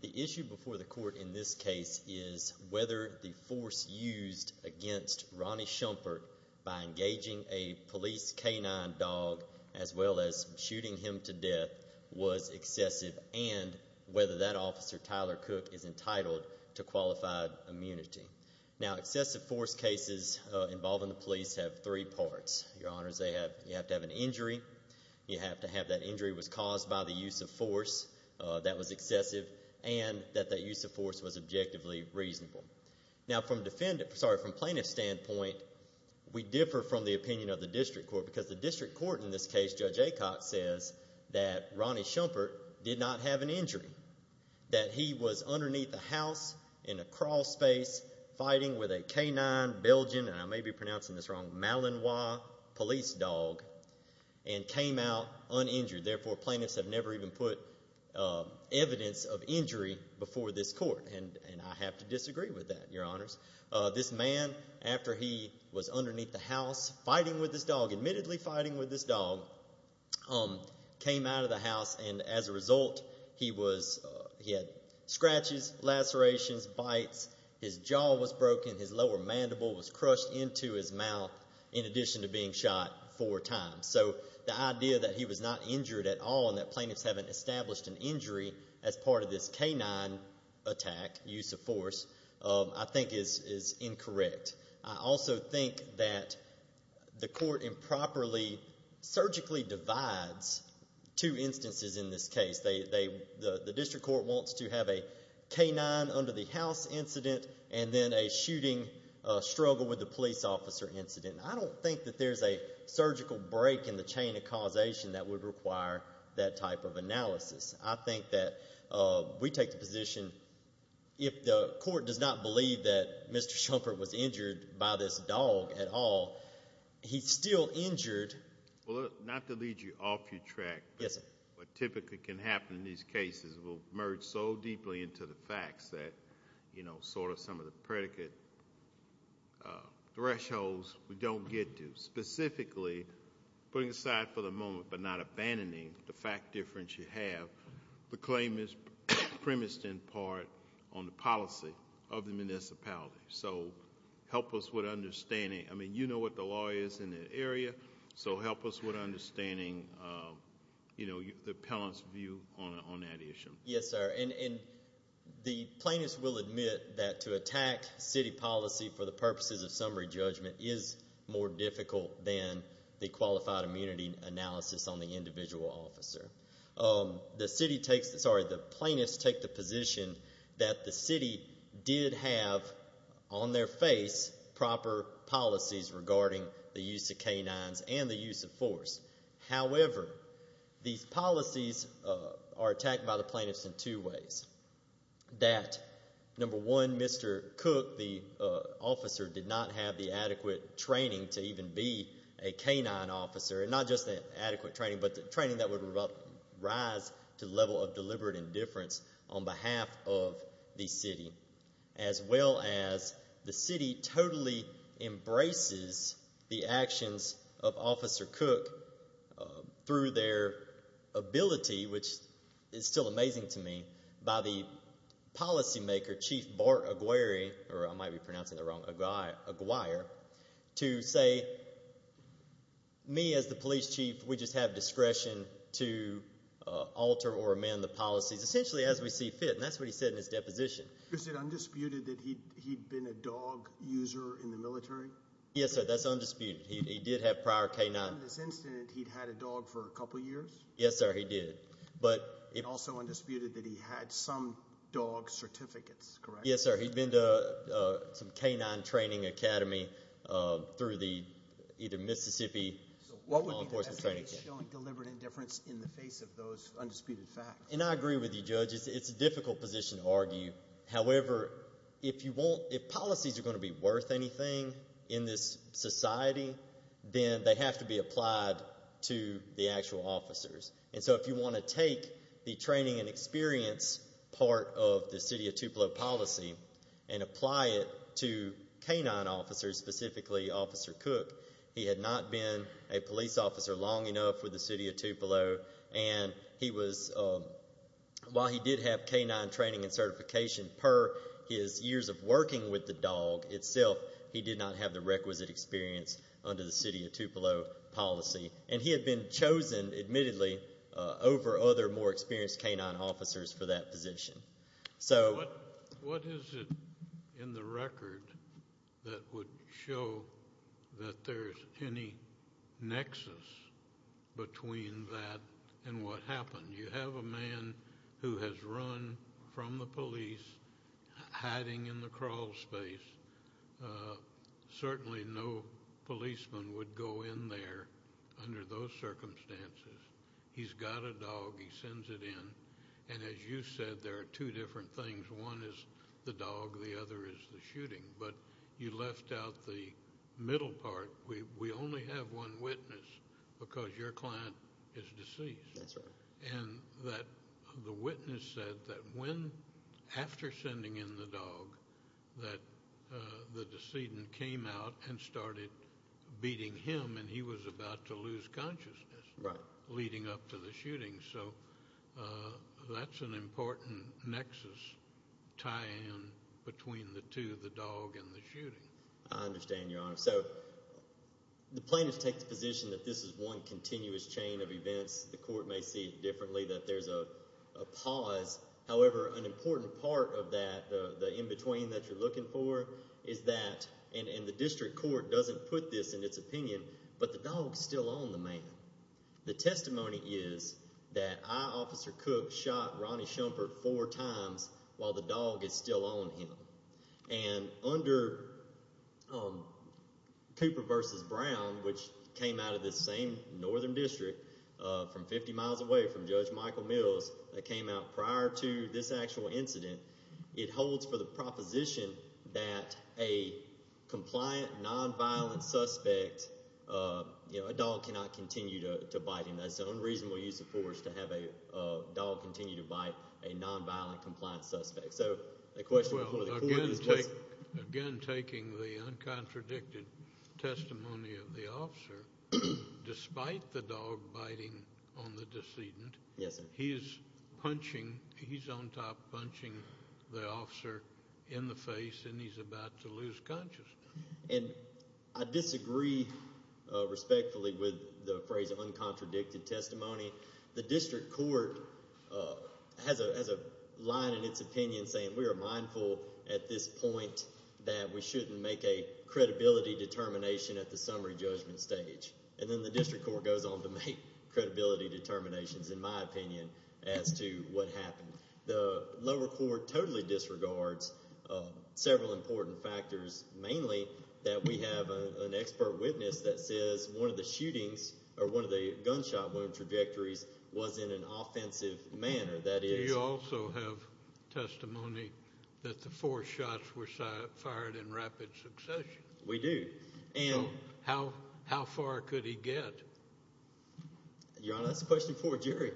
The issue before the court in this case is whether the force used against Ronnie Shumpert by engaging a police canine dog as well as shooting him to death was excessive and whether that officer, Tyler Cook, is entitled to qualified immunity. Now excessive force cases involving the police have three parts. Your honors, you have to have an injury, you have to have that injury was caused by the use of force that was excessive and that that use of force was objectively reasonable. Now from plaintiff's standpoint, we differ from the opinion of the district court because the district court in this case, Judge Aycock, says that Ronnie Shumpert did not have an injury, that he was underneath the house in a crawl space fighting with a canine Belgian and I may be pronouncing this wrong, Malinois police dog and came out uninjured. Therefore, plaintiffs have never even put evidence of injury before this court and I have to disagree with that, your honors. This man, after he was underneath the house fighting with this dog, admittedly fighting with this dog, came out of the house and as a result, he was, he had scratches, lacerations, bites, his jaw was broken, his lower mandible was crushed into his mouth in addition to being shot four times. So the idea that he was not injured at all and that plaintiffs haven't established an injury as part of this canine attack, use of force, I think is incorrect. I also think that the district court wants to have a canine under the house incident and then a shooting struggle with a police officer incident. I don't think that there's a surgical break in the chain of causation that would require that type of analysis. I think that we take the position if the court does not believe that Mr. Shumpert was injured by this dog at all, he's still in custody. I think that what typically can happen in these cases will merge so deeply into the facts that, you know, sort of some of the predicate thresholds we don't get to. Specifically, putting aside for the moment, but not abandoning the fact difference you have, the claim is premised in part on the policy of the municipality. So help us with understanding, I mean, you know what the law is in that area, so help us with understanding, you know, the appellant's view on that issue. Yes, sir. And the plaintiffs will admit that to attack city policy for the purposes of summary judgment is more difficult than the qualified immunity analysis on the individual officer. The city takes, sorry, the plaintiffs take the position that the city did have on their face proper policies regarding the use of canines and the use of force. However, these policies are attacked by the plaintiffs in two ways. That, number one, Mr. Cook, the officer, did not have the adequate training to even be a canine officer, and not just the adequate training, but the training that would rise to the level of deliberate indifference on behalf of the city, as well as the city totally embraces the actions of Officer Cook through their ability, which is still amazing to me, by the policymaker, Chief Bart Aguirre, or I might be pronouncing it wrong, Aguirre, to say, me as the police chief, we just have discretion to alter or amend the policies essentially as we see fit, and that's what he said in his deposition. Is it undisputed that he'd been a dog user in the military? Yes, sir, that's undisputed. He did have prior canine... In this incident, he'd had a dog for a couple years? Yes, sir, he did, but... It's also undisputed that he had some dog certificates, correct? Yes, sir, he'd been to some canine training academy through the either Mississippi... What would be the evidence showing deliberate indifference in the face of those undisputed facts? And I agree with you, Judge. It's a difficult position to argue. However, if policies are going to be worth anything in this society, then they have to be applied to the actual officers. And so if you want to take the training and experience part of the City of Tupelo policy and apply it to canine officers, specifically Officer Cook, he had not been a police officer long enough with the City of Tupelo. And he was... While he did have canine training and certification per his years of working with the dog itself, he did not have the requisite experience under the City of Tupelo policy. And he had been chosen, admittedly, over other more experienced canine officers for that position. So... What is it in the record that would show that there's any nexus between that and what happened? You have a man who has run from the police, hiding in the crawlspace. Certainly no policeman would go in there under those circumstances. He's got a dog, he sends it in. And as you said, there are two different things. One is the dog, the other is the shooting. But you left out the middle part. We only have one witness because your client is deceased. That's right. And that the witness said that when, after sending in the dog, that the decedent came out and started beating him and he was about to lose consciousness... Right. ...leading up to the shooting. So that's an important nexus, tie-in, between the two, the dog and the shooting. I understand, Your Honor. So the plaintiff takes the position that this is one continuous chain of events. The court may see it differently, that there's a pause. However, an important part of that, the in-between that you're looking for, is that, and the district court doesn't put this in its opinion, but the dog's still on the man. The testimony is that I, Officer Cook, shot Ronnie Shumpert four times while the dog is still on him. And under Cooper v. Brown, which came out of this same northern district, from 50 miles away from Judge Michael Mills, that came out prior to this actual incident, it holds for the proposition that a compliant, non-violent suspect, you know, a dog cannot continue to bite him. That's an unreasonable use of force to have a dog continue to bite a non-violent, compliant suspect. Well, again, taking the uncontradicted testimony of the officer, despite the dog biting on the decedent... Yes, sir. ...he is punching, he's on top, punching the officer in the face, and he's about to lose consciousness. And I disagree respectfully with the phrase, uncontradicted testimony. The district court has a line in its opinion saying, we are mindful at this point that we shouldn't make a credibility determination at the summary judgment stage. And then the district court goes on to make a testimony as to what happened. The lower court totally disregards several important factors, mainly that we have an expert witness that says one of the shootings, or one of the gunshot wound trajectories, was in an offensive manner. That is... Do you also have testimony that the four shots were fired in rapid succession? We do. And... How far could he get? Your Honor, that's a question for a jury.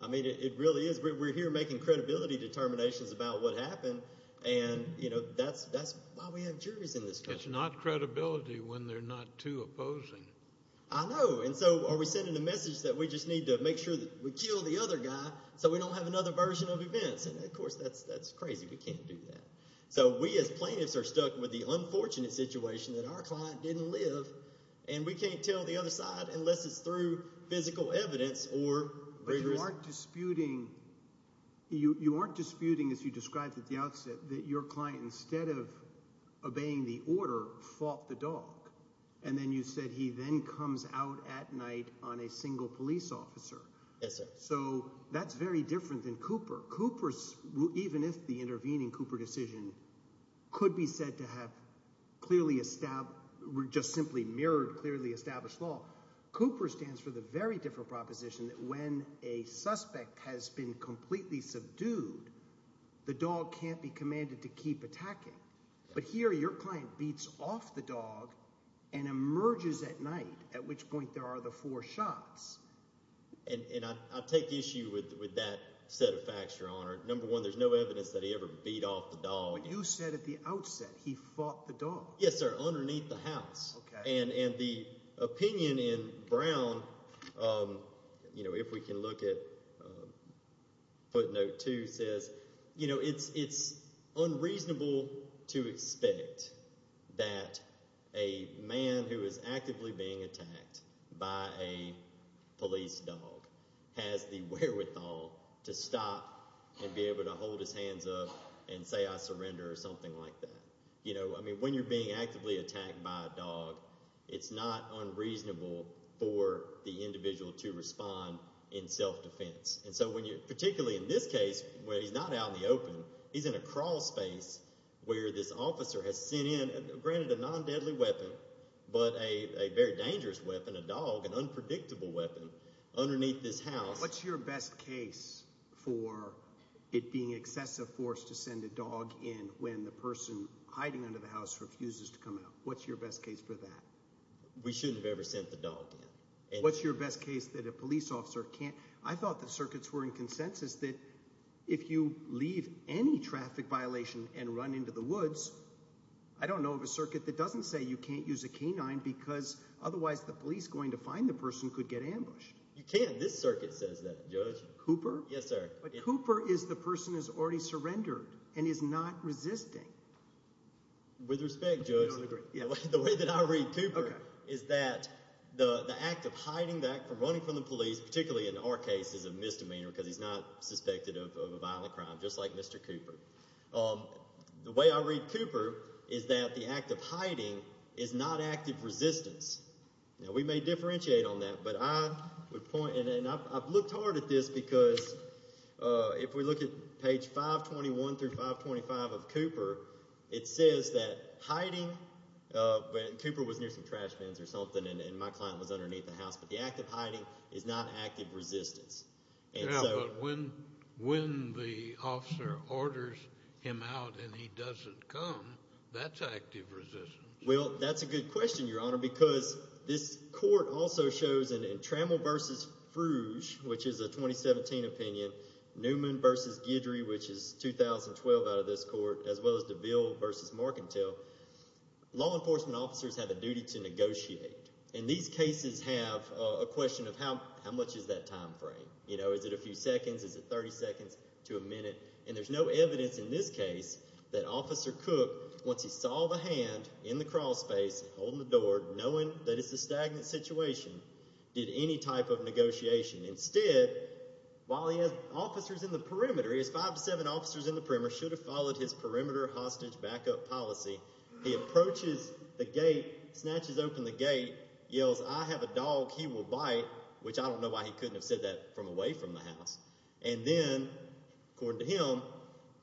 I mean, it really is. We're here making credibility determinations about what happened, and, you know, that's why we have juries in this court. It's not credibility when they're not too opposing. I know. And so, are we sending a message that we just need to make sure that we kill the other guy so we don't have another version of events? And, of course, that's crazy. We can't do that. So we as plaintiffs are stuck with the unfortunate situation that our client didn't live, and we can't tell the other side unless it's through physical evidence or... But you aren't disputing...you aren't disputing, as you described at the outset, that your client, instead of obeying the order, fought the dog. And then you said he then comes out at night on a single police officer. Yes, sir. So that's very different than Cooper. Cooper's...even if the intervening Cooper decision could be said to have just simply mirrored clearly established law, Cooper stands for the very different proposition that when a suspect has been completely subdued, the dog can't be commanded to keep attacking. But here, your client beats off the dog and emerges at night, at which point there are the four shots. And I take issue with that set of facts, Your Honor. Number one, there's no evidence that he ever beat off the dog. But you said at the outset he fought the dog. Yes, sir. Underneath the house. Okay. And the opinion in Brown, you know, if we can look at footnote two, says, you know, it's unreasonable to expect that a man who is actively being attacked by a police dog has the wherewithal to stop and be able to hold his hands up and say, I surrender, or something like that. You know, I mean, when you're being actively attacked by a dog, it's not unreasonable for the individual to respond in self-defense. And so when you, particularly in this case, where he's not out in the open, he's in a crawl space where this officer has sent in, granted a non-deadly weapon, but a very What's your best case for it being excessive force to send a dog in when the person hiding under the house refuses to come out? What's your best case for that? We shouldn't have ever sent the dog in. What's your best case that a police officer can't? I thought the circuits were in consensus that if you leave any traffic violation and run into the woods, I don't know of a circuit that doesn't say you can't use a canine because otherwise the police going to find the person could get ambushed. You can. This circuit says that, Judge. Cooper? Yes, sir. But Cooper is the person who's already surrendered and is not resisting. With respect, Judge, the way that I read Cooper is that the act of hiding, the act of running from the police, particularly in our case, is a misdemeanor because he's not suspected of a violent crime, just like Mr. Cooper. The way I read Cooper is that the act of hiding is not active resistance. Now, we may differentiate on that, but I would point, and I've looked hard at this because if we look at page 521 through 525 of Cooper, it says that hiding, Cooper was near some trash bins or something and my client was underneath the house, but the act of hiding is not active resistance. But when the officer orders him out and he doesn't come, that's active resistance. Well, that's a good question, Your Honor, because this court also shows in Trammell v. Frouge, which is a 2017 opinion, Newman v. Guidry, which is 2012 out of this court, as well as DeVille v. Marcantel, law enforcement officers have a duty to negotiate. And these cases have a question of how much is that time frame? Is it a few seconds? Is it 30 seconds to a minute? And there's no evidence in this case that Officer Cook, once he saw the hand in the crawl space holding the door, knowing that it's a stagnant situation, did any type of negotiation. Instead, while he has officers in the perimeter, he has five to seven officers in the perimeter, should have followed his perimeter hostage backup policy, he approaches the gate, snatches open the gate, yells, I have a dog he will bite, which I don't know why he couldn't have said that from away from the house. And then, according to him,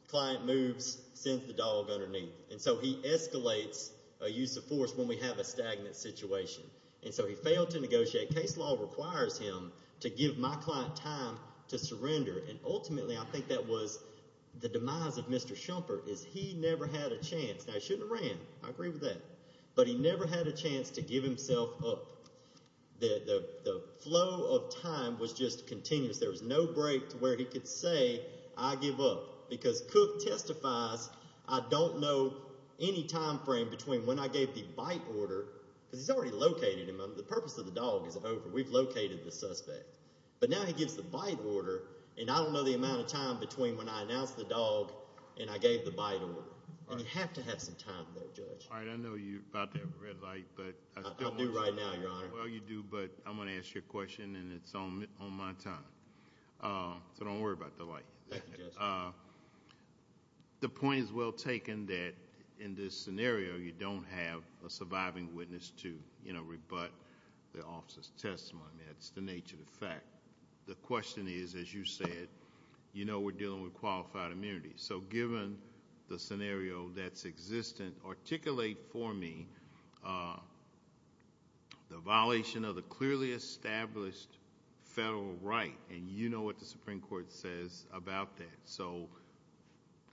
client moves, sends the dog underneath. And so he escalates a use of force when we have a stagnant situation. And so he failed to negotiate. Case law requires him to give my client time to surrender. And ultimately, I think that was the demise of Mr. Schumpeter, is he never had a chance. Now, he shouldn't have ran. I agree with that. But he never had a chance to give himself up. The flow of time was just continuous. There was no break to where he could say, I give up. Because Cook testifies, I don't know any time frame between when I gave the bite order, because he's already located him. The purpose of the dog is over. We've located the suspect. But now he gives the bite order, and I don't know the amount of time between when I announced the dog and I gave the bite order. And you have to have some time, though, Judge. All right. I know you're about to have a red light. I do right now, Your Honor. Well, you do. But I'm going to ask you a question, and it's on my time. So don't worry about the light. Thank you, Judge. The point is well taken that in this scenario, you don't have a surviving witness to rebut the officer's testimony. That's the nature of the fact. The question is, as you said, you know we're dealing with qualified immunity. So given the scenario that's existent, articulate for me the violation of the clearly established federal right. And you know what the Supreme Court says about that. So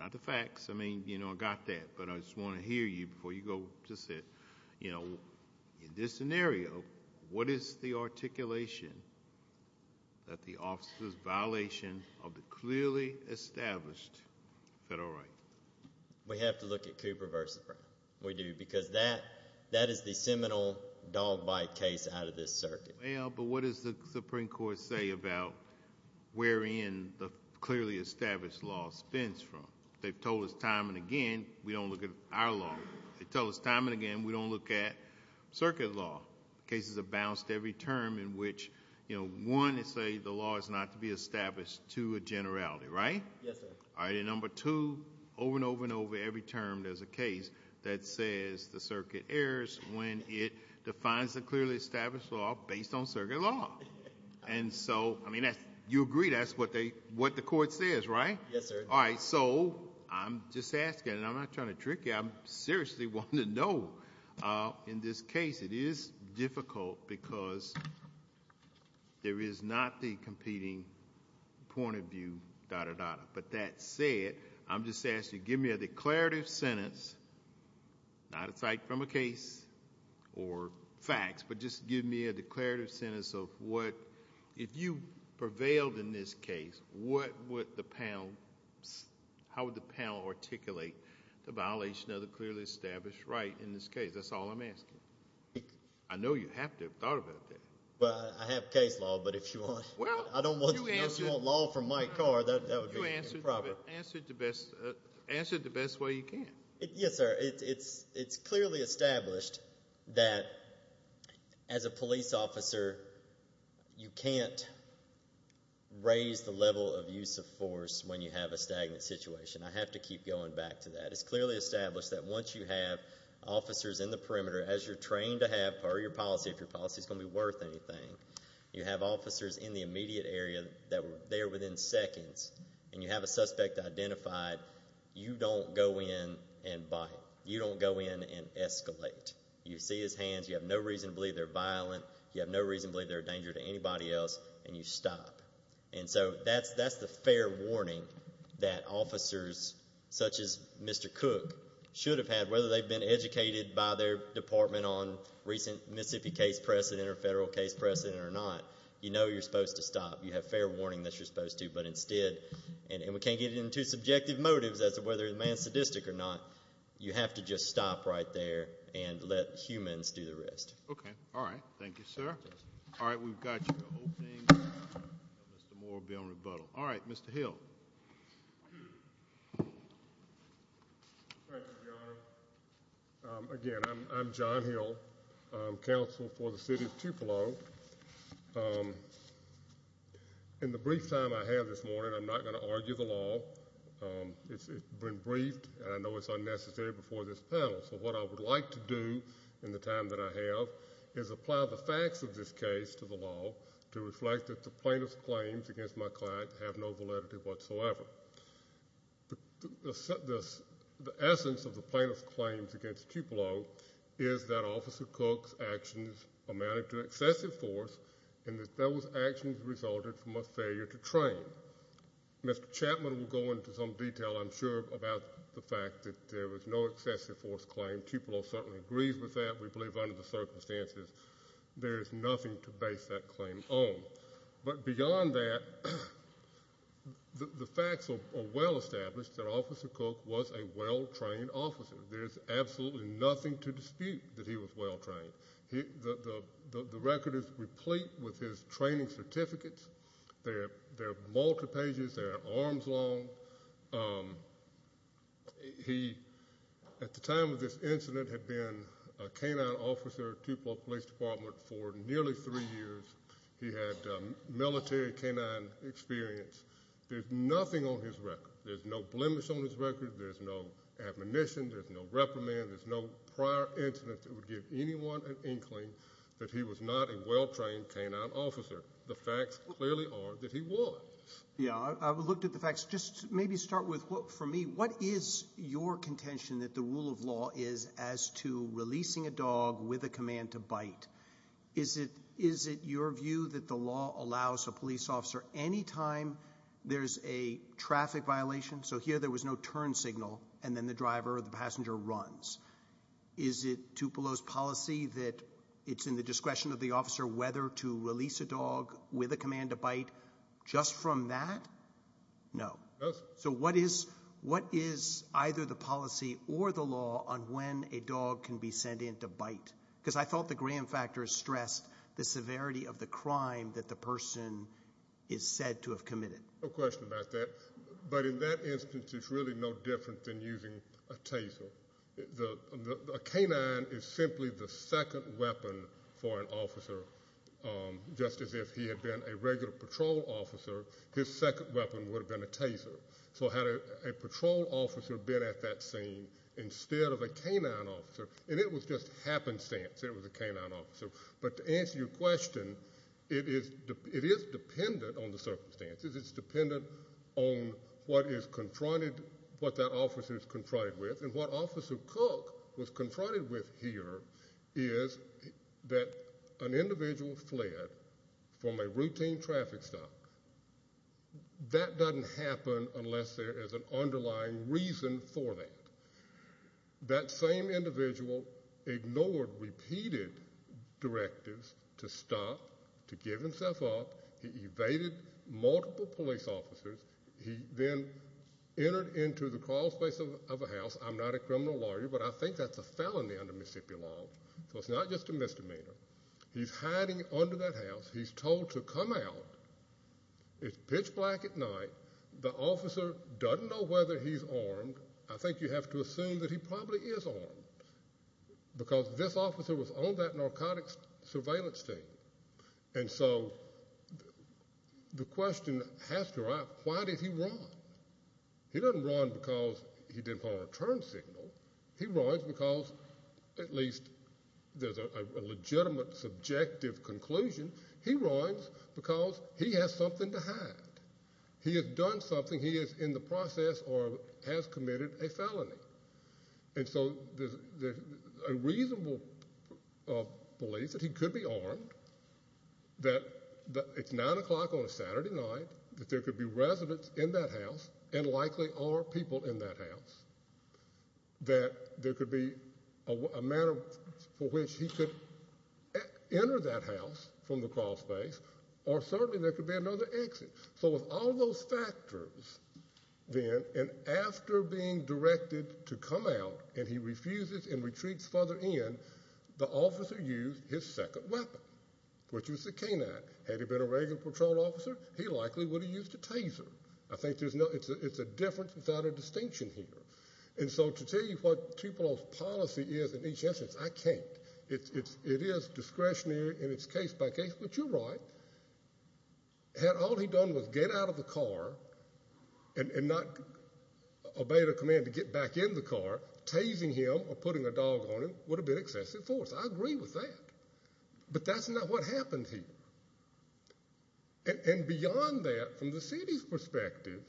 not the facts. I mean, you know, I got that. But I just want to hear you before you go. Just say, you know, in this scenario, what is the articulation that the officer's violation of the clearly established federal right? We have to look at Cooper v. Brown. We do. Because that is the seminal dog bite case out of this circuit. Well, but what does the Supreme Court say about wherein the clearly established law spins from? They've told us time and again we don't look at our law. They tell us time and again we don't look at circuit law. Cases have bounced every term in which, you know, one, they say the law is not to be established to a generality. Right? Yes, sir. All right. And number two, over and over and over every term there's a case that says the circuit errs when it defines the clearly established law based on circuit law. And so, I mean, you agree that's what the court says, right? Yes, sir. All right. So I'm just asking. And I'm not trying to trick you. I'm seriously wanting to know. In this case it is difficult because there is not the competing point of view, dot, dot, dot. But that said, I'm just asking, give me a declarative sentence, not aside from a case or facts, but just give me a declarative sentence of what, if you prevailed in this case, what would the panel, how would the panel articulate the violation of the clearly established right in this case? That's all I'm asking. I know you have to have thought about that. Well, I have case law. But if you want, I don't want, if you want law from my car, that would be improper. Answer it the best way you can. Yes, sir. It's clearly established that as a police officer you can't raise the level of use of force when you have a stagnant situation. I have to keep going back to that. It's clearly established that once you have officers in the perimeter, as you're trained to have per your policy, if your policy is going to be worth anything, you have officers in the immediate area that were there within seconds, and you have a suspect identified, you don't go in and bite. You don't go in and escalate. You see his hands. You have no reason to believe they're violent. You have no reason to believe they're a danger to anybody else. And you stop. And so that's the fair warning that officers such as Mr. Cook should have had, whether they've been educated by their department on recent Mississippi case precedent or federal case precedent or not. You know you're supposed to stop. You have fair warning that you're supposed to. But instead, and we can't get into subjective motives as to whether a man's sadistic or not, you have to just stop right there and let humans do the rest. Okay. All right. Thank you, sir. All right. We've got you. Mr. Moore will be on rebuttal. All right. Mr. Hill. Again, I'm John Hill. I'm counsel for the city of Tupelo. In the brief time I have this morning, I'm not going to argue the law. It's been briefed, and I know it's unnecessary before this panel. So what I would like to do in the time that I have is apply the facts of this case to the law to reflect that the plaintiff's claims against my client have no validity whatsoever. The essence of the plaintiff's claims against Tupelo is that Officer Cook's actions amounted to excessive force and that those actions resulted from a failure to train. Mr. Chapman will go into some detail, I'm sure, about the fact that there was no excessive force claim. Tupelo certainly agrees with that. We believe under the circumstances there is nothing to base that claim on. But beyond that, the facts are well established that Officer Cook was a well-trained officer. There's absolutely nothing to dispute that he was well-trained. The record is replete with his training certificates. They're multi-pages. They're arms-long. He, at the time of this incident, had been a K-9 officer at Tupelo Police Department for nearly three years. He had military K-9 experience. There's nothing on his record. There's no blemish on his record. There's no admonition. There's no reprimand. There's no prior incident that would give anyone an in-claim that he was not a well-trained K-9 officer. The facts clearly are that he was. Yeah, I looked at the facts. Just maybe start with, for me, what is your contention that the rule of law is as to releasing a dog with a command to bite? Is it your view that the law allows a police officer, any time there's a traffic violation, so here there was no turn signal, and then the driver or the passenger runs. Is it Tupelo's policy that it's in the discretion of the officer whether to release a dog with a command to bite just from that? No. So what is either the policy or the law on when a dog can be sent in to bite? Because I thought the Graham factors stressed the severity of the crime that the person is said to have committed. No question about that. But in that instance, it's really no different than using a taser. A K-9 is simply the second weapon for an officer. Just as if he had been a regular patrol officer, his second weapon would have been a taser. So had a patrol officer been at that scene instead of a K-9 officer, and it was just happenstance that it was a K-9 officer, but to answer your question, it is dependent on the circumstances. It's dependent on what is confronted, what that officer is confronted with, and what Officer Cook was confronted with here is that an individual fled from a routine traffic stop. That doesn't happen unless there is an underlying reason for that. That same individual ignored repeated directives to stop, to give himself up. He evaded multiple police officers. He then entered into the crawlspace of a house. I'm not a criminal lawyer, but I think that's a felony under Mississippi law. So it's not just a misdemeanor. He's hiding under that house. He's told to come out. It's pitch black at night. The officer doesn't know whether he's armed. I think you have to assume that he probably is armed because this officer was on that narcotics surveillance team. And so the question has to arise, why did he run? He doesn't run because he didn't follow a turn signal. He runs because at least there's a legitimate subjective conclusion. He runs because he has something to hide. He has done something. He is in the process or has committed a felony. And so there's a reasonable belief that he could be armed, that it's 9 o'clock on a Saturday night, that there could be residents in that house and likely are people in that house, that there could be a manner for which he could enter that house from the crawlspace or certainly there could be another exit. So with all those factors, then, and after being directed to come out, and he refuses and retreats further in, the officer used his second weapon, which was the canine. Had he been a regular patrol officer, he likely would have used a taser. I think it's a difference without a distinction here. And so to tell you what Tupelo's policy is in each instance, I can't. It is discretionary and it's case by case. But you're right. Had all he done was get out of the car and not obey the command to get back in the car, tasing him or putting a dog on him would have been excessive force. I agree with that. But that's not what happened here. And beyond that, from the city's perspective,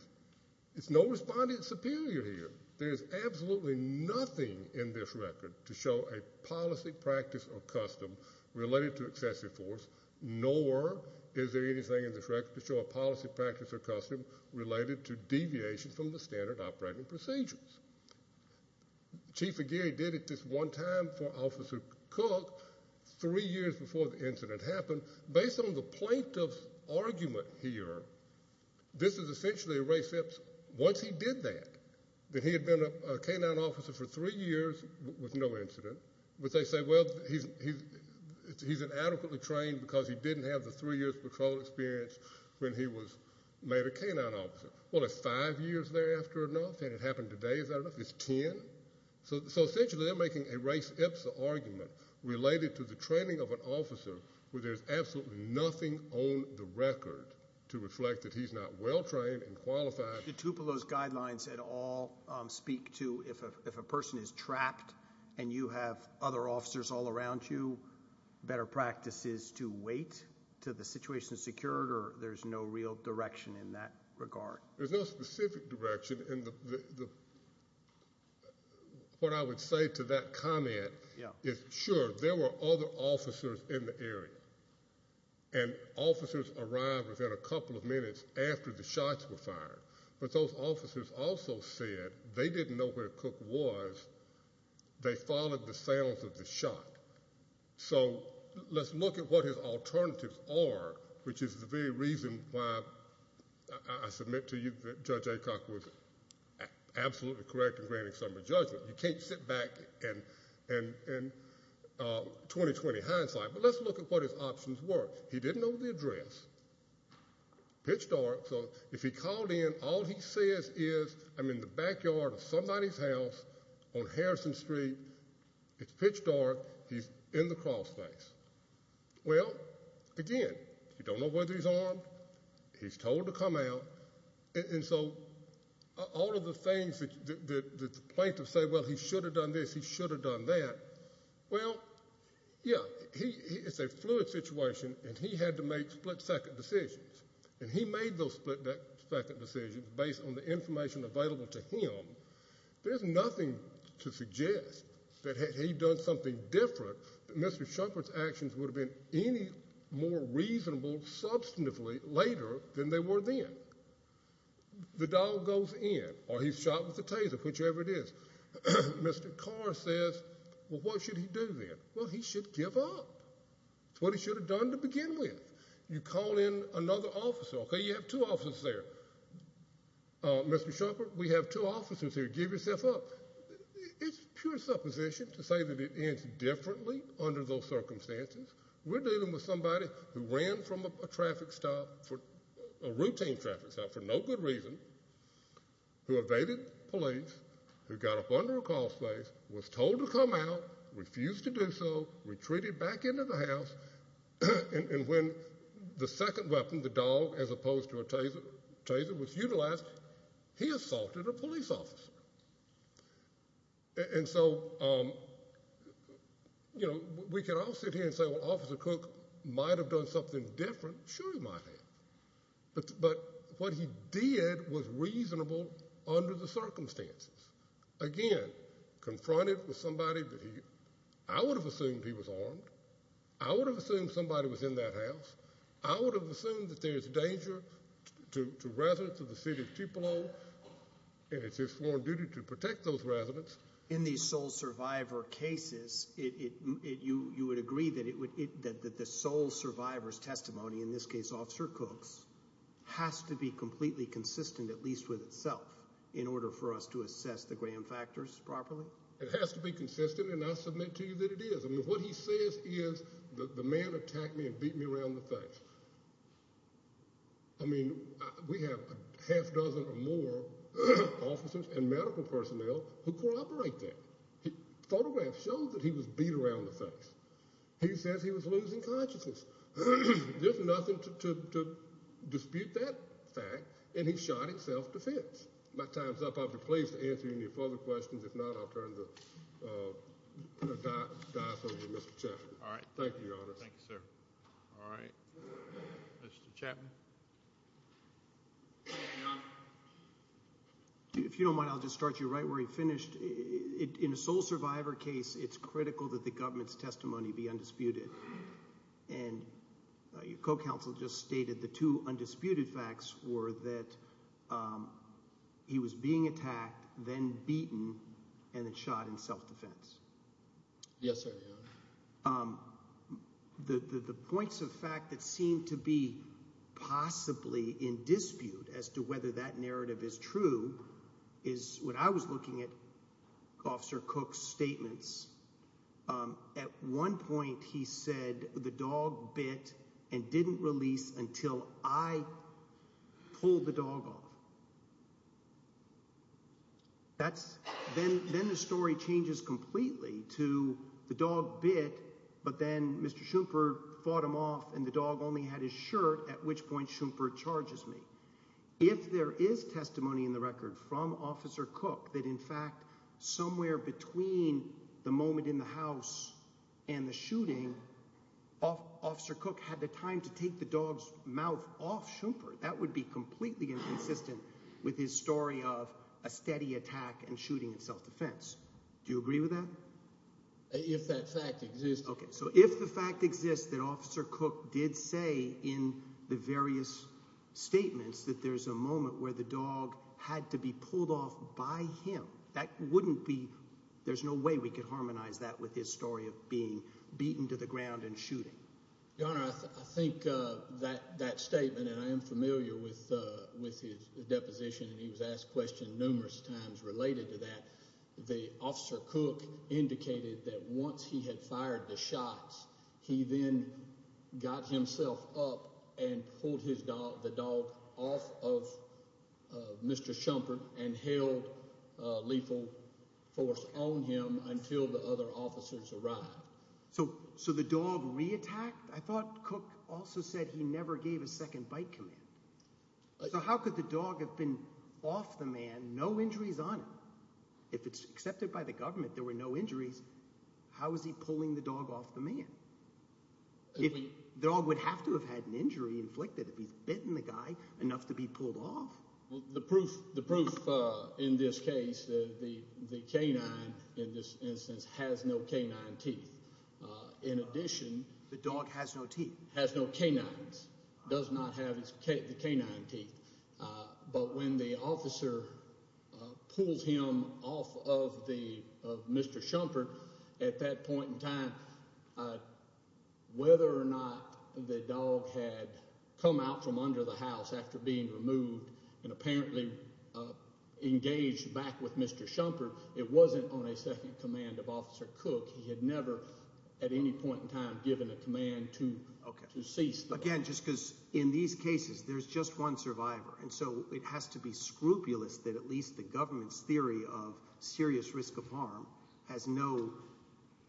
there's no respondent superior here. There's absolutely nothing in this record to show a policy, practice, or custom related to excessive force, nor is there anything in this record to show a policy, practice, or custom related to deviations from the standard operating procedures. Chief Aguirre did it this one time for Officer Cook, three years before the incident happened. Based on the plaintiff's argument here, this is essentially a race that once he did that, that he had been a canine officer for three years with no incident, but they say, well, he's inadequately trained because he didn't have the three years patrol experience when he was made a canine officer. Well, it's five years thereafter or nothing. It happened today. Is that enough? It's ten? So essentially they're making a race ipsa argument related to the training of an officer where there's absolutely nothing on the record to reflect that he's not well trained and qualified. Did Tupelo's guidelines at all speak to if a person is trapped and you have other officers all around you, better practices to wait until the situation is secured or there's no real direction in that regard? There's no specific direction. What I would say to that comment is, sure, there were other officers in the area and officers arrived within a couple of minutes after the shots were fired, but those officers also said they didn't know where Cook was. They followed the sounds of the shot. So let's look at what his alternatives are, which is the very reason why I submit to you that Judge Aycock was absolutely correct in granting some of the judgments. You can't sit back and 20-20 hindsight, but let's look at what his options were. He didn't know the address. Pitch dark. So if he called in, all he says is, I'm in the backyard of somebody's house on Harrison Street. It's pitch dark. He's in the crawl space. Well, again, you don't know whether he's armed. He's told to come out. And so all of the things that the plaintiff said, well, he should have done this, he should have done that. Well, yeah, it's a fluid situation, and he had to make split-second decisions, and he made those split-second decisions based on the information available to him. There's nothing to suggest that had he done something different, Mr. Shumpert's actions would have been any more reasonable, substantively, later than they were then. The dog goes in, or he's shot with a taser, whichever it is. Mr. Carr says, well, what should he do then? Well, he should give up. It's what he should have done to begin with. You call in another officer. Okay, you have two officers there. Mr. Shumpert, we have two officers here. Give yourself up. It's pure supposition to say that it ends differently under those circumstances. We're dealing with somebody who ran from a traffic stop, a routine traffic stop for no good reason, who evaded police, who got up under a call space, was told to come out, refused to do so, retreated back into the house, and when the second weapon, the dog, as opposed to a taser, was utilized, he assaulted a police officer. And so, you know, we can all sit here and say, well, Officer Cook might have done something different. Sure he might have. But what he did was reasonable under the circumstances. Again, confronted with somebody that he – I would have assumed he was armed. I would have assumed somebody was in that house. I would have assumed that there's danger to residents of the city of Tupelo, and it's his sworn duty to protect those residents. In these sole survivor cases, you would agree that it would – that the sole survivor's testimony, in this case Officer Cook's, has to be completely consistent, at least with itself, in order for us to assess the Graham factors properly? It has to be consistent, and I submit to you that it is. I mean, what he says is the man attacked me and beat me around the face. I mean, we have a half dozen or more officers and medical personnel who cooperate there. Photographs show that he was beat around the face. He says he was losing consciousness. There's nothing to dispute that fact, and he shot in self-defense. My time's up. I'll be pleased to answer any further questions. If not, I'll turn the dice over to Mr. Chapman. All right. Thank you, Your Honor. Thank you, sir. All right. Mr. Chapman. Thank you, Your Honor. If you don't mind, I'll just start you right where you finished. In a sole survivor case, it's critical that the government's testimony be undisputed, and your co-counsel just stated the two undisputed facts were that he was being attacked, then beaten, and then shot in self-defense. Yes, sir, Your Honor. The points of fact that seem to be possibly in dispute as to whether that narrative is true is what I was looking at Officer Cook's statements. At one point, he said the dog bit and didn't release until I pulled the dog off. Then the story changes completely to the dog bit, but then Mr. Schoomper fought him off, and the dog only had his shirt, at which point Schoomper charges me. If there is testimony in the record from Officer Cook that, in fact, somewhere between the moment in the house and the shooting, Officer Cook had the time to take the dog's mouth off Schoomper, that would be completely inconsistent with his story of a steady attack and shooting in self-defense. Do you agree with that? If that fact exists. Okay, so if the fact exists that Officer Cook did say in the various statements that there's a moment where the dog had to be pulled off by him, that wouldn't be... There's no way we could harmonize that with his story of being beaten to the ground and shooting. Your Honor, I think that statement, and I am familiar with his deposition, and he was asked the question numerous times related to that. The Officer Cook indicated that once he had fired the shots, he then got himself up and pulled the dog off of Mr. Schoomper and held lethal force on him until the other officers arrived. So the dog re-attacked? I thought Cook also said he never gave a second bite command. So how could the dog have been off the man, no injuries on him? If it's accepted by the government there were no injuries, how is he pulling the dog off the man? The dog would have to have had an injury inflicted if he's bitten the guy enough to be pulled off. The proof in this case, the canine in this instance has no canine teeth. In addition... The dog has no teeth? Has no canines. Does not have the canine teeth. But when the officer pulled him off of Mr. Schoomper, at that point in time, whether or not the dog had come out from under the house after being removed and apparently engaged back with Mr. Schoomper, it wasn't on a second command of Officer Cook. He had never at any point in time given a command to cease. Again, just because in these cases there's just one survivor and so it has to be scrupulous that at least the government's theory of serious risk of harm has no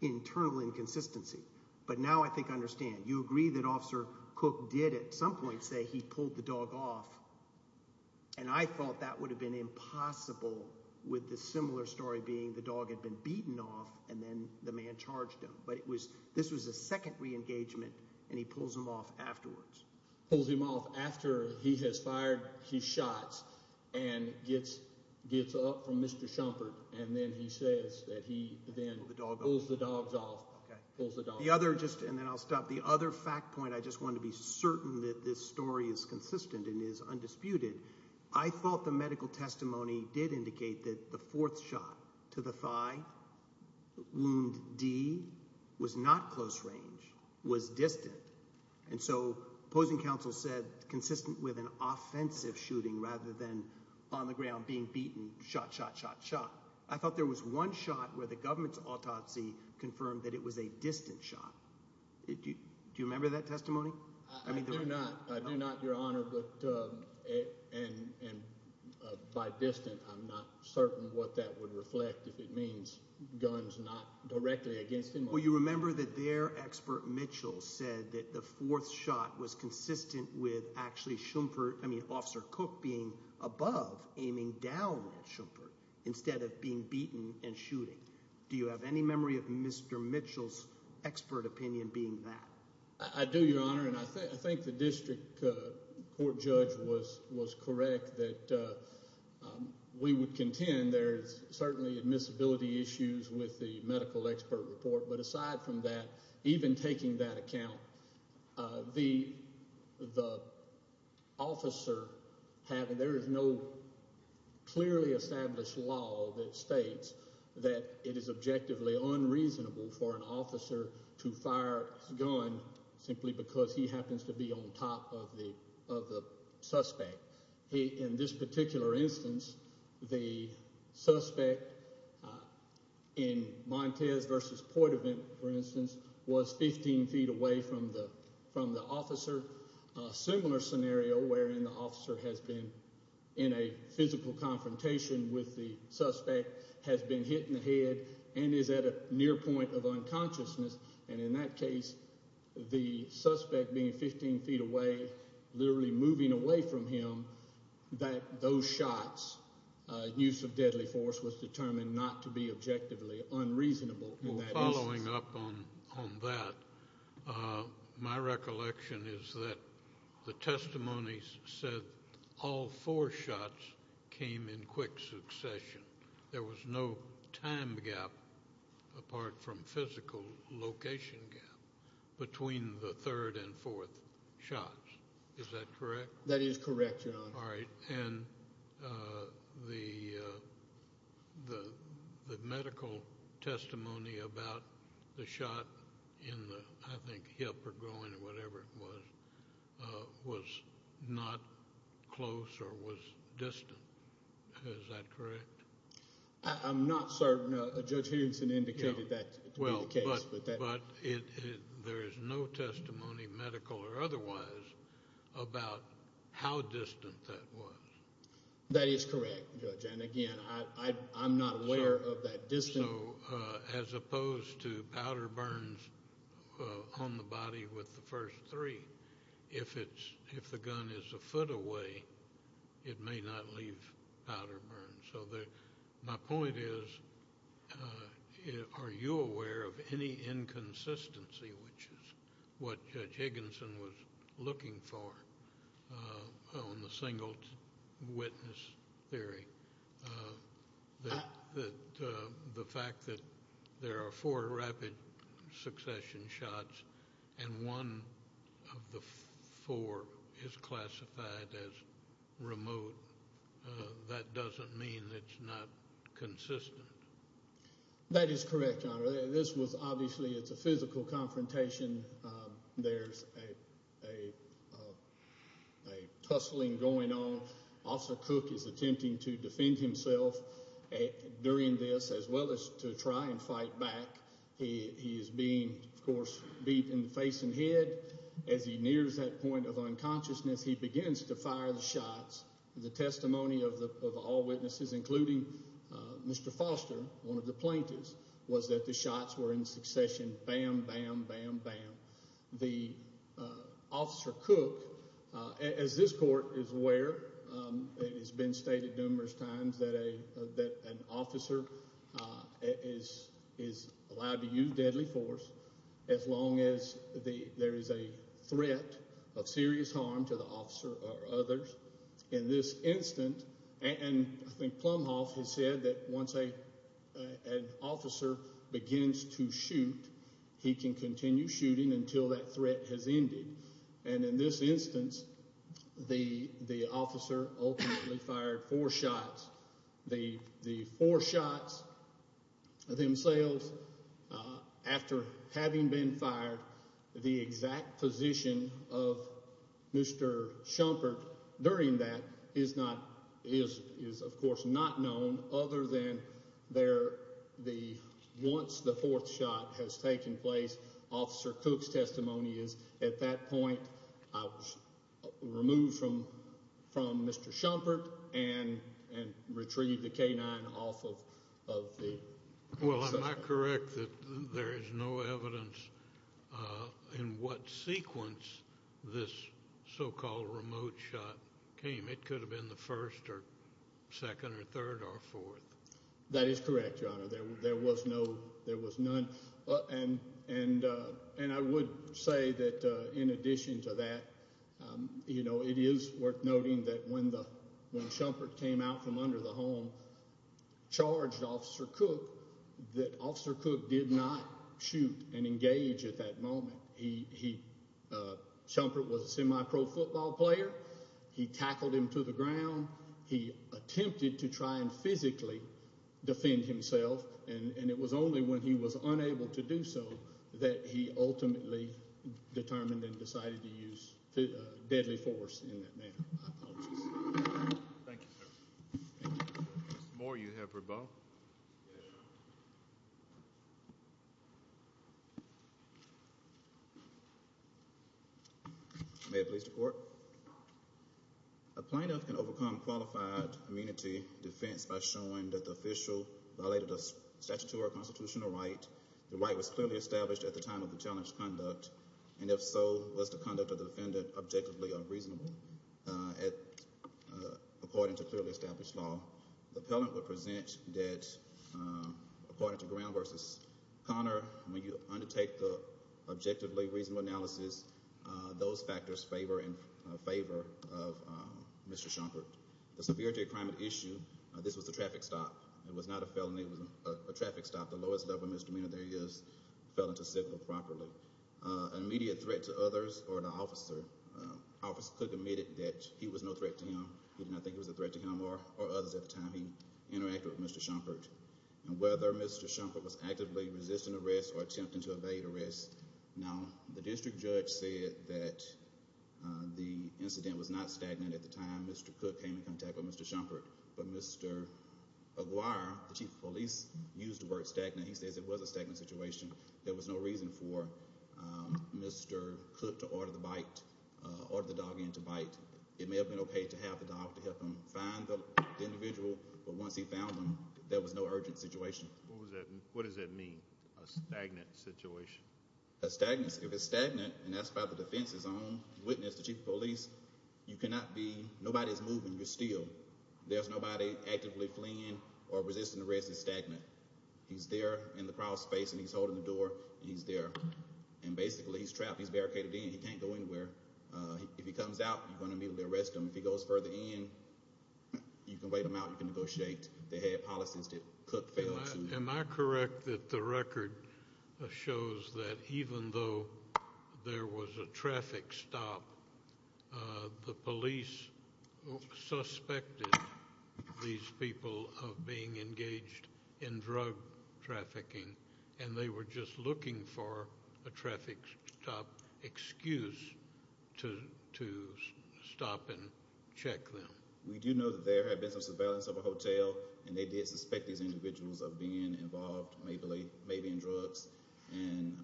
internal inconsistency. But now I think I understand. You agree that Officer Cook did at some point say he pulled the dog off and I thought that would have been impossible with the similar story being the dog had been beaten off and then the man charged him. But this was a second re-engagement and he pulls him off afterwards. Pulls him off after he has fired his shots and gets up from Mr. Schoomper and then he says that he then pulls the dogs off. The other, and then I'll stop, the other fact point, I just want to be certain that this story is consistent and is undisputed. I thought the medical testimony did indicate that the fourth shot to the thigh, wound D, was not close range, was distant. And so opposing counsel said consistent with an offensive shooting rather than on the ground being beaten, shot, shot, shot, shot. I thought there was one shot where the government's autopsy confirmed that it was a distant shot. Do you remember that testimony? I do not, Your Honor. And by distant, I'm not certain what that would reflect if it means guns not directly against him. Well, you remember that their expert Mitchell said that the fourth shot was consistent with actually Schoomper, I mean Officer Cook, being above aiming down at Schoomper instead of being beaten and shooting. Do you have any memory of Mr. Mitchell's expert opinion being that? I do, Your Honor, and I think the district court judge was correct that we would contend there's certainly admissibility issues with the medical expert report. But aside from that, even taking that account, the officer, there is no clearly established law that states that it is objectively unreasonable for an officer to fire a gun simply because he happens to be on top of the suspect. In this particular instance, the suspect in Montez v. Portavent, for instance, was 15 feet away from the officer. A similar scenario wherein the officer has been in a physical confrontation with the suspect, has been hit in the head, and is at a near point of unconsciousness, and in that case, the suspect being 15 feet away, literally moving away from him, that those shots, use of deadly force, was determined not to be objectively unreasonable. Well, following up on that, my recollection is that the testimony said all four shots came in quick succession. There was no time gap, apart from physical location gap, between the third and fourth shots. Is that correct? That is correct, Your Honor. All right, and the medical testimony about the shot in the, I think, hip or groin or whatever it was, was not close or was distant. Is that correct? I'm not certain. Judge Henderson indicated that to be the case. But there is no testimony, medical or otherwise, about how distant that was. That is correct, Judge. And again, I'm not aware of that distance. So, as opposed to powder burns on the body with the first three, if the gun is a foot away, it may not leave powder burns. So my point is, are you aware of any inconsistency, which is what Judge Higginson was looking for on the single witness theory, that the fact that there are four rapid succession shots and one of the four is classified as remote, that doesn't mean it's not consistent. That is correct, Your Honor. This was obviously, it's a physical confrontation. There's a tussling going on. Officer Cook is attempting to defend himself during this as well as to try and fight back. He is being, of course, beat in the face and head. As he nears that point of unconsciousness, he begins to fire the shots. The testimony of all witnesses, including Mr. Foster, one of the plaintiffs, was that the shots were in succession, bam, bam, bam, bam. The Officer Cook, as this court is aware, it has been stated numerous times that an officer is allowed to use deadly force as long as there is a threat of serious harm to the officer or others. In this instance, and I think Plumhoff has said that once an officer begins to shoot, he can continue shooting until that threat has ended. And in this instance, the officer ultimately fired four shots. The four shots themselves, after having been fired, the exact position of Mr. Schumpert during that is, of course, not known, other than once the fourth shot has taken place, Officer Cook's testimony is, at that point, I was removed from Mr. Schumpert and retrieved the K-9 off of the suspect. Well, am I correct that there is no evidence in what sequence this so-called remote shot came? It could have been the first or second or third or fourth. That is correct, Your Honor. There was none. And I would say that, in addition to that, it is worth noting that when Schumpert came out from under the home, charged Officer Cook that Officer Cook did not shoot and engage at that moment. Schumpert was a semi-pro football player. He tackled him to the ground. He attempted to try and physically defend himself, and it was only when he was unable to do so that he ultimately determined and decided to use deadly force in that manner. Thank you, sir. Thank you. Mr. Moore, you have rebuttal. Yes. May it please the court. A plaintiff can overcome qualified immunity defense by showing that the official violated a statutory constitutional right. The right was clearly established at the time of the challenged conduct, and if so, was the conduct of the defendant objectively unreasonable? According to clearly established law, the appellant would present that, according to ground versus Connor, when you undertake the objectively reasonable analysis, those factors favor and favor of Mr. Schumpert. The severity of the crime at issue, this was a traffic stop. It was not a felony. It was a traffic stop. The lowest level misdemeanor there is fell into civil property. An immediate threat to others or the officer, Officer Cook admitted that he was no threat to him. He did not think it was a threat to him or others at the time he interacted with Mr. Schumpert. And whether Mr. Schumpert was actively resisting arrest or attempting to evade arrest, now, the district judge said that the incident was not stagnant at the time Mr. Cook came in contact with Mr. Schumpert, but Mr. Aguirre, the chief of police, used the word stagnant. He says it was a stagnant situation. There was no reason for Mr. Cook It may have been okay to have the dog to help him find the individual, but once he found him, there was no urgent situation. What does that mean? A stagnant situation? A stagnant situation. If it's stagnant, and that's by the defense's own witness, the chief of police, you cannot be, nobody's moving. You're still. There's nobody actively fleeing or resisting arrest. It's stagnant. He's there in the crowd space, and he's holding the door. He's there. And basically, he's trapped. He's barricaded in. He can't go anywhere. If he comes out, you're going to immediately arrest him. If he goes further in, you can wait him out. You can negotiate. They had policies that Cook failed to. Am I correct that the record shows that even though there was a traffic stop, the police suspected these people of being engaged in drug trafficking and they were just looking for a traffic stop excuse to stop and check them. We do know that there have been some surveillance of a hotel, and they did suspect these individuals of being involved maybe in drugs, and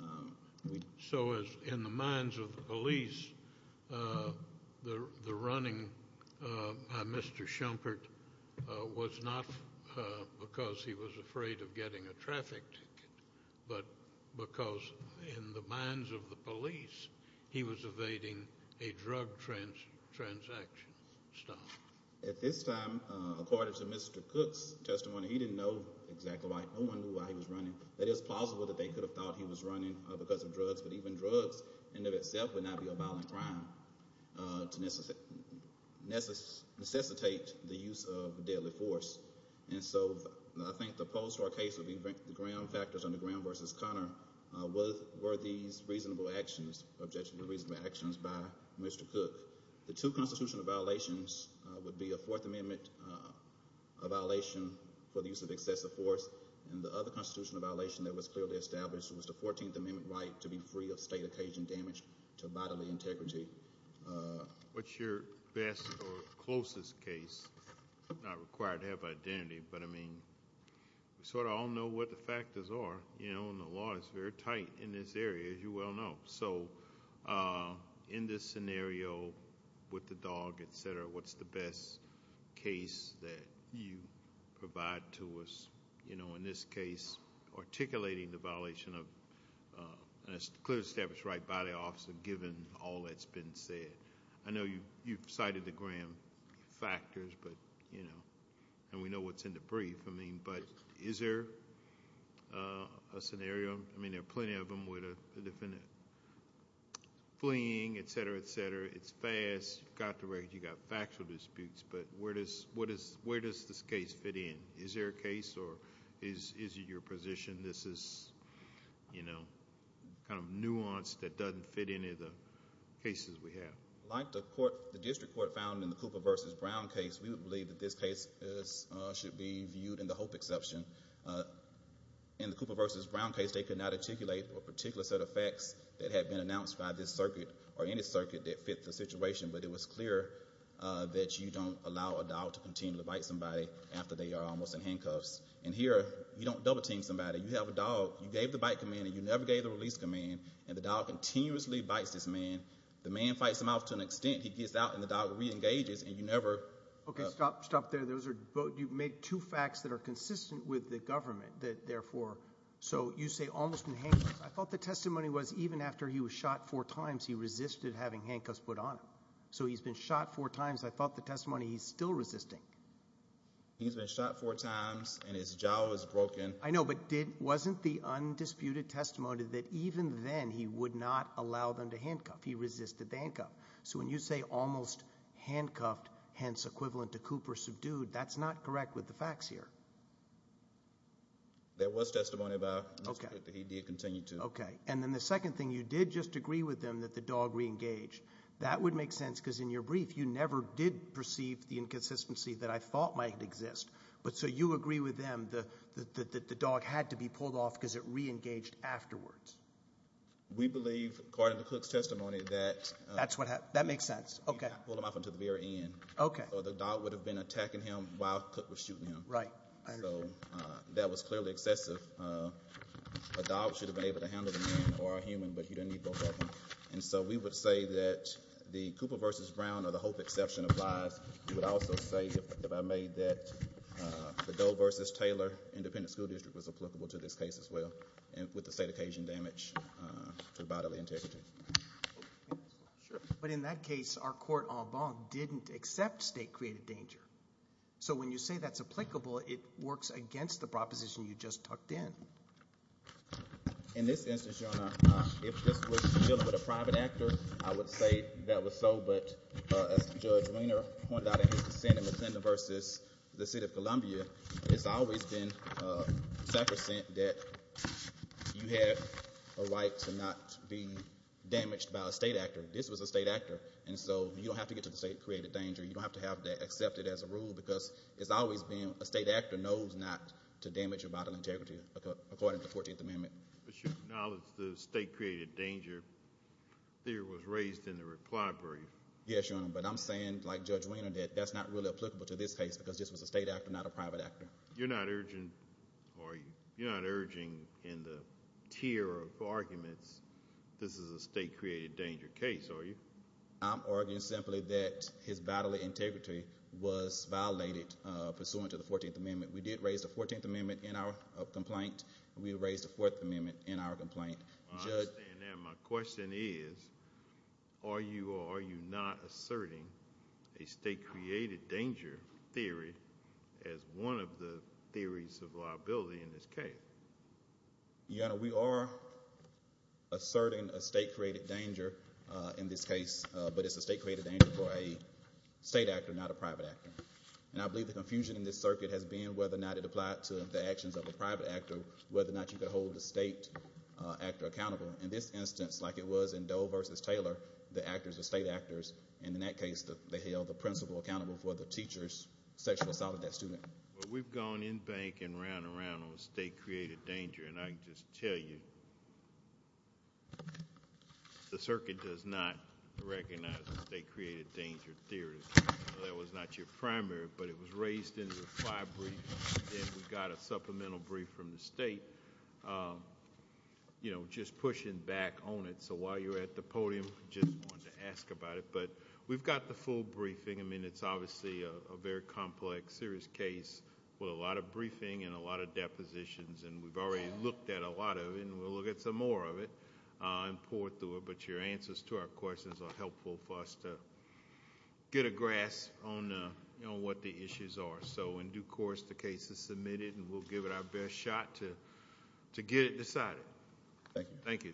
we So, in the minds of the police, the running by Mr. Schumpert was not because he was afraid of getting a traffic ticket, but because in the minds of the police, he was evading a drug transaction stop. At this time, according to Mr. Cook's testimony, he didn't know exactly why. No one knew why he was running. It is plausible that they could have thought he was running because of drugs, but even drugs in and of itself would not be a violent crime to necessitate the use of deadly force. And so, I think the post or case of the Graham factors under Graham versus Conner were these reasonable actions objection to reasonable actions by Mr. Cook. The two constitutional violations would be a Fourth Amendment violation for the use of excessive force and the other constitutional violation that was clearly established was the 14th Amendment right to be free of state occasion damage to bodily integrity. What's your best or closest case? I'm not required to have an identity, but I mean we sort of all know what the factors are. You know, and the law is very tight in this area as you well know. So, in this scenario with the dog, et cetera, what's the best case that you provide to us? You know, in this case articulating the violation of, and it's clearly established right by the officer given all that's been said. I know you've cited the Graham factors, but, you know, and we know what's in the brief, I mean, but is there a scenario, I mean, there are plenty of them with a defendant fleeing, et cetera, et cetera. It's fast, you've got the record, you've got factual disputes, but where does this case fit in? Is there a case or is it your position this is, you know, kind of nuanced that doesn't fit any of the cases we have? Like the court, the district court found in the Cooper versus Brown case, we would believe that this case should be viewed in the hope exception. In the Cooper versus Brown case, they could not articulate a particular set of facts that had been announced by this circuit, or any circuit that fit the situation, but it was clear that you don't allow a dog to continue to bite somebody after they are almost in handcuffs. And here, you don't double team somebody, you have a dog, you gave the bite command and you never gave the release command, and the dog continuously bites this man, the man fights him off to an extent he gets out and the dog reengages and you never Okay, stop, stop there, those are, you made two facts that are consistent with the government that therefore, so you say almost in handcuffs, I thought the testimony was even after he was shot four times he resisted having handcuffs put on him. So he's been shot four times, I thought the testimony was almost in handcuffs and then he would not allow them to handcuff. He resisted the handcuff. So when you say almost handcuffed, hence equivalent to Cooper subdued, that's not correct with the facts here. There was testimony about Okay. That he did continue to Okay. And then the second thing, you did just agree with them that the dog reengaged. That would make sense because in your brief, you never did perceive the inconsistency that I thought might exist. But so you agree with them that the dog had to be pulled off because it reengaged afterwards. We believe according to Cook's testimony that That's what that makes sense. Okay. Pulled him off until the very end. Okay. So the dog would have been attacking him while Cook was shooting him. Right. So that was clearly excessive. A dog should have been able to handle the man or a human but he didn't need both of them. And so we would say that the Cooper versus Brown or the Hope exception applies. We would say it created danger. So when you say that's applicable it works against the proposition you just tucked in. In this instance, Your Honor, if this was dealing with a private actor, I would say that was so but as Judge Weiner pointed out in his testimony in the State of Columbia, it's always been sacrosanct that you had a right to not be damaged by a state actor. This was a state actor. And so you don't have to get to the state created danger. You don't have to be a state actor, not a private actor. You're not urging in the tier of arguments this is a state created danger are you? I'm arguing simply that his bodily integrity was violated pursuant to the 14th Amendment. We did raise the 14th Amendment in our complaint. We raised the 4th Amendment in our complaint. My question is, are you or are you not asserting a state created danger theory as one of the theories of liability in this case? Your Honor, we are asserting a state created danger in this case, but it's a state created danger for a state actor, not a private actor. And I believe the confusion in this circuit has been whether or not it applied to the actions of a private actor, whether or not you could hold the state actor accountable. In this instance, like it was in Doe v. Taylor, the actors were state actors, and in that case they held the principal accountable for the teacher's sexual assault of that student. Well, we've gone in bank and around and around on state created danger, and I can just tell you the circuit does not recognize the state created danger theory. That was not your primary, but it was raised in the fly brief, and we got a supplemental brief from the state just pushing back on it. So while you're at the podium, I just wanted to ask about it, but we've got the full briefing. I mean, it's obviously a very complex, serious case with a lot of briefing and a lot of depositions, and we've already looked at a lot of it, and we'll look at some more of it and pour through it, but your answers to our questions are helpful for us to get a grasp on what the issues are. So in due course, the case is submitted, and we'll give it our best shot to get it Thank you.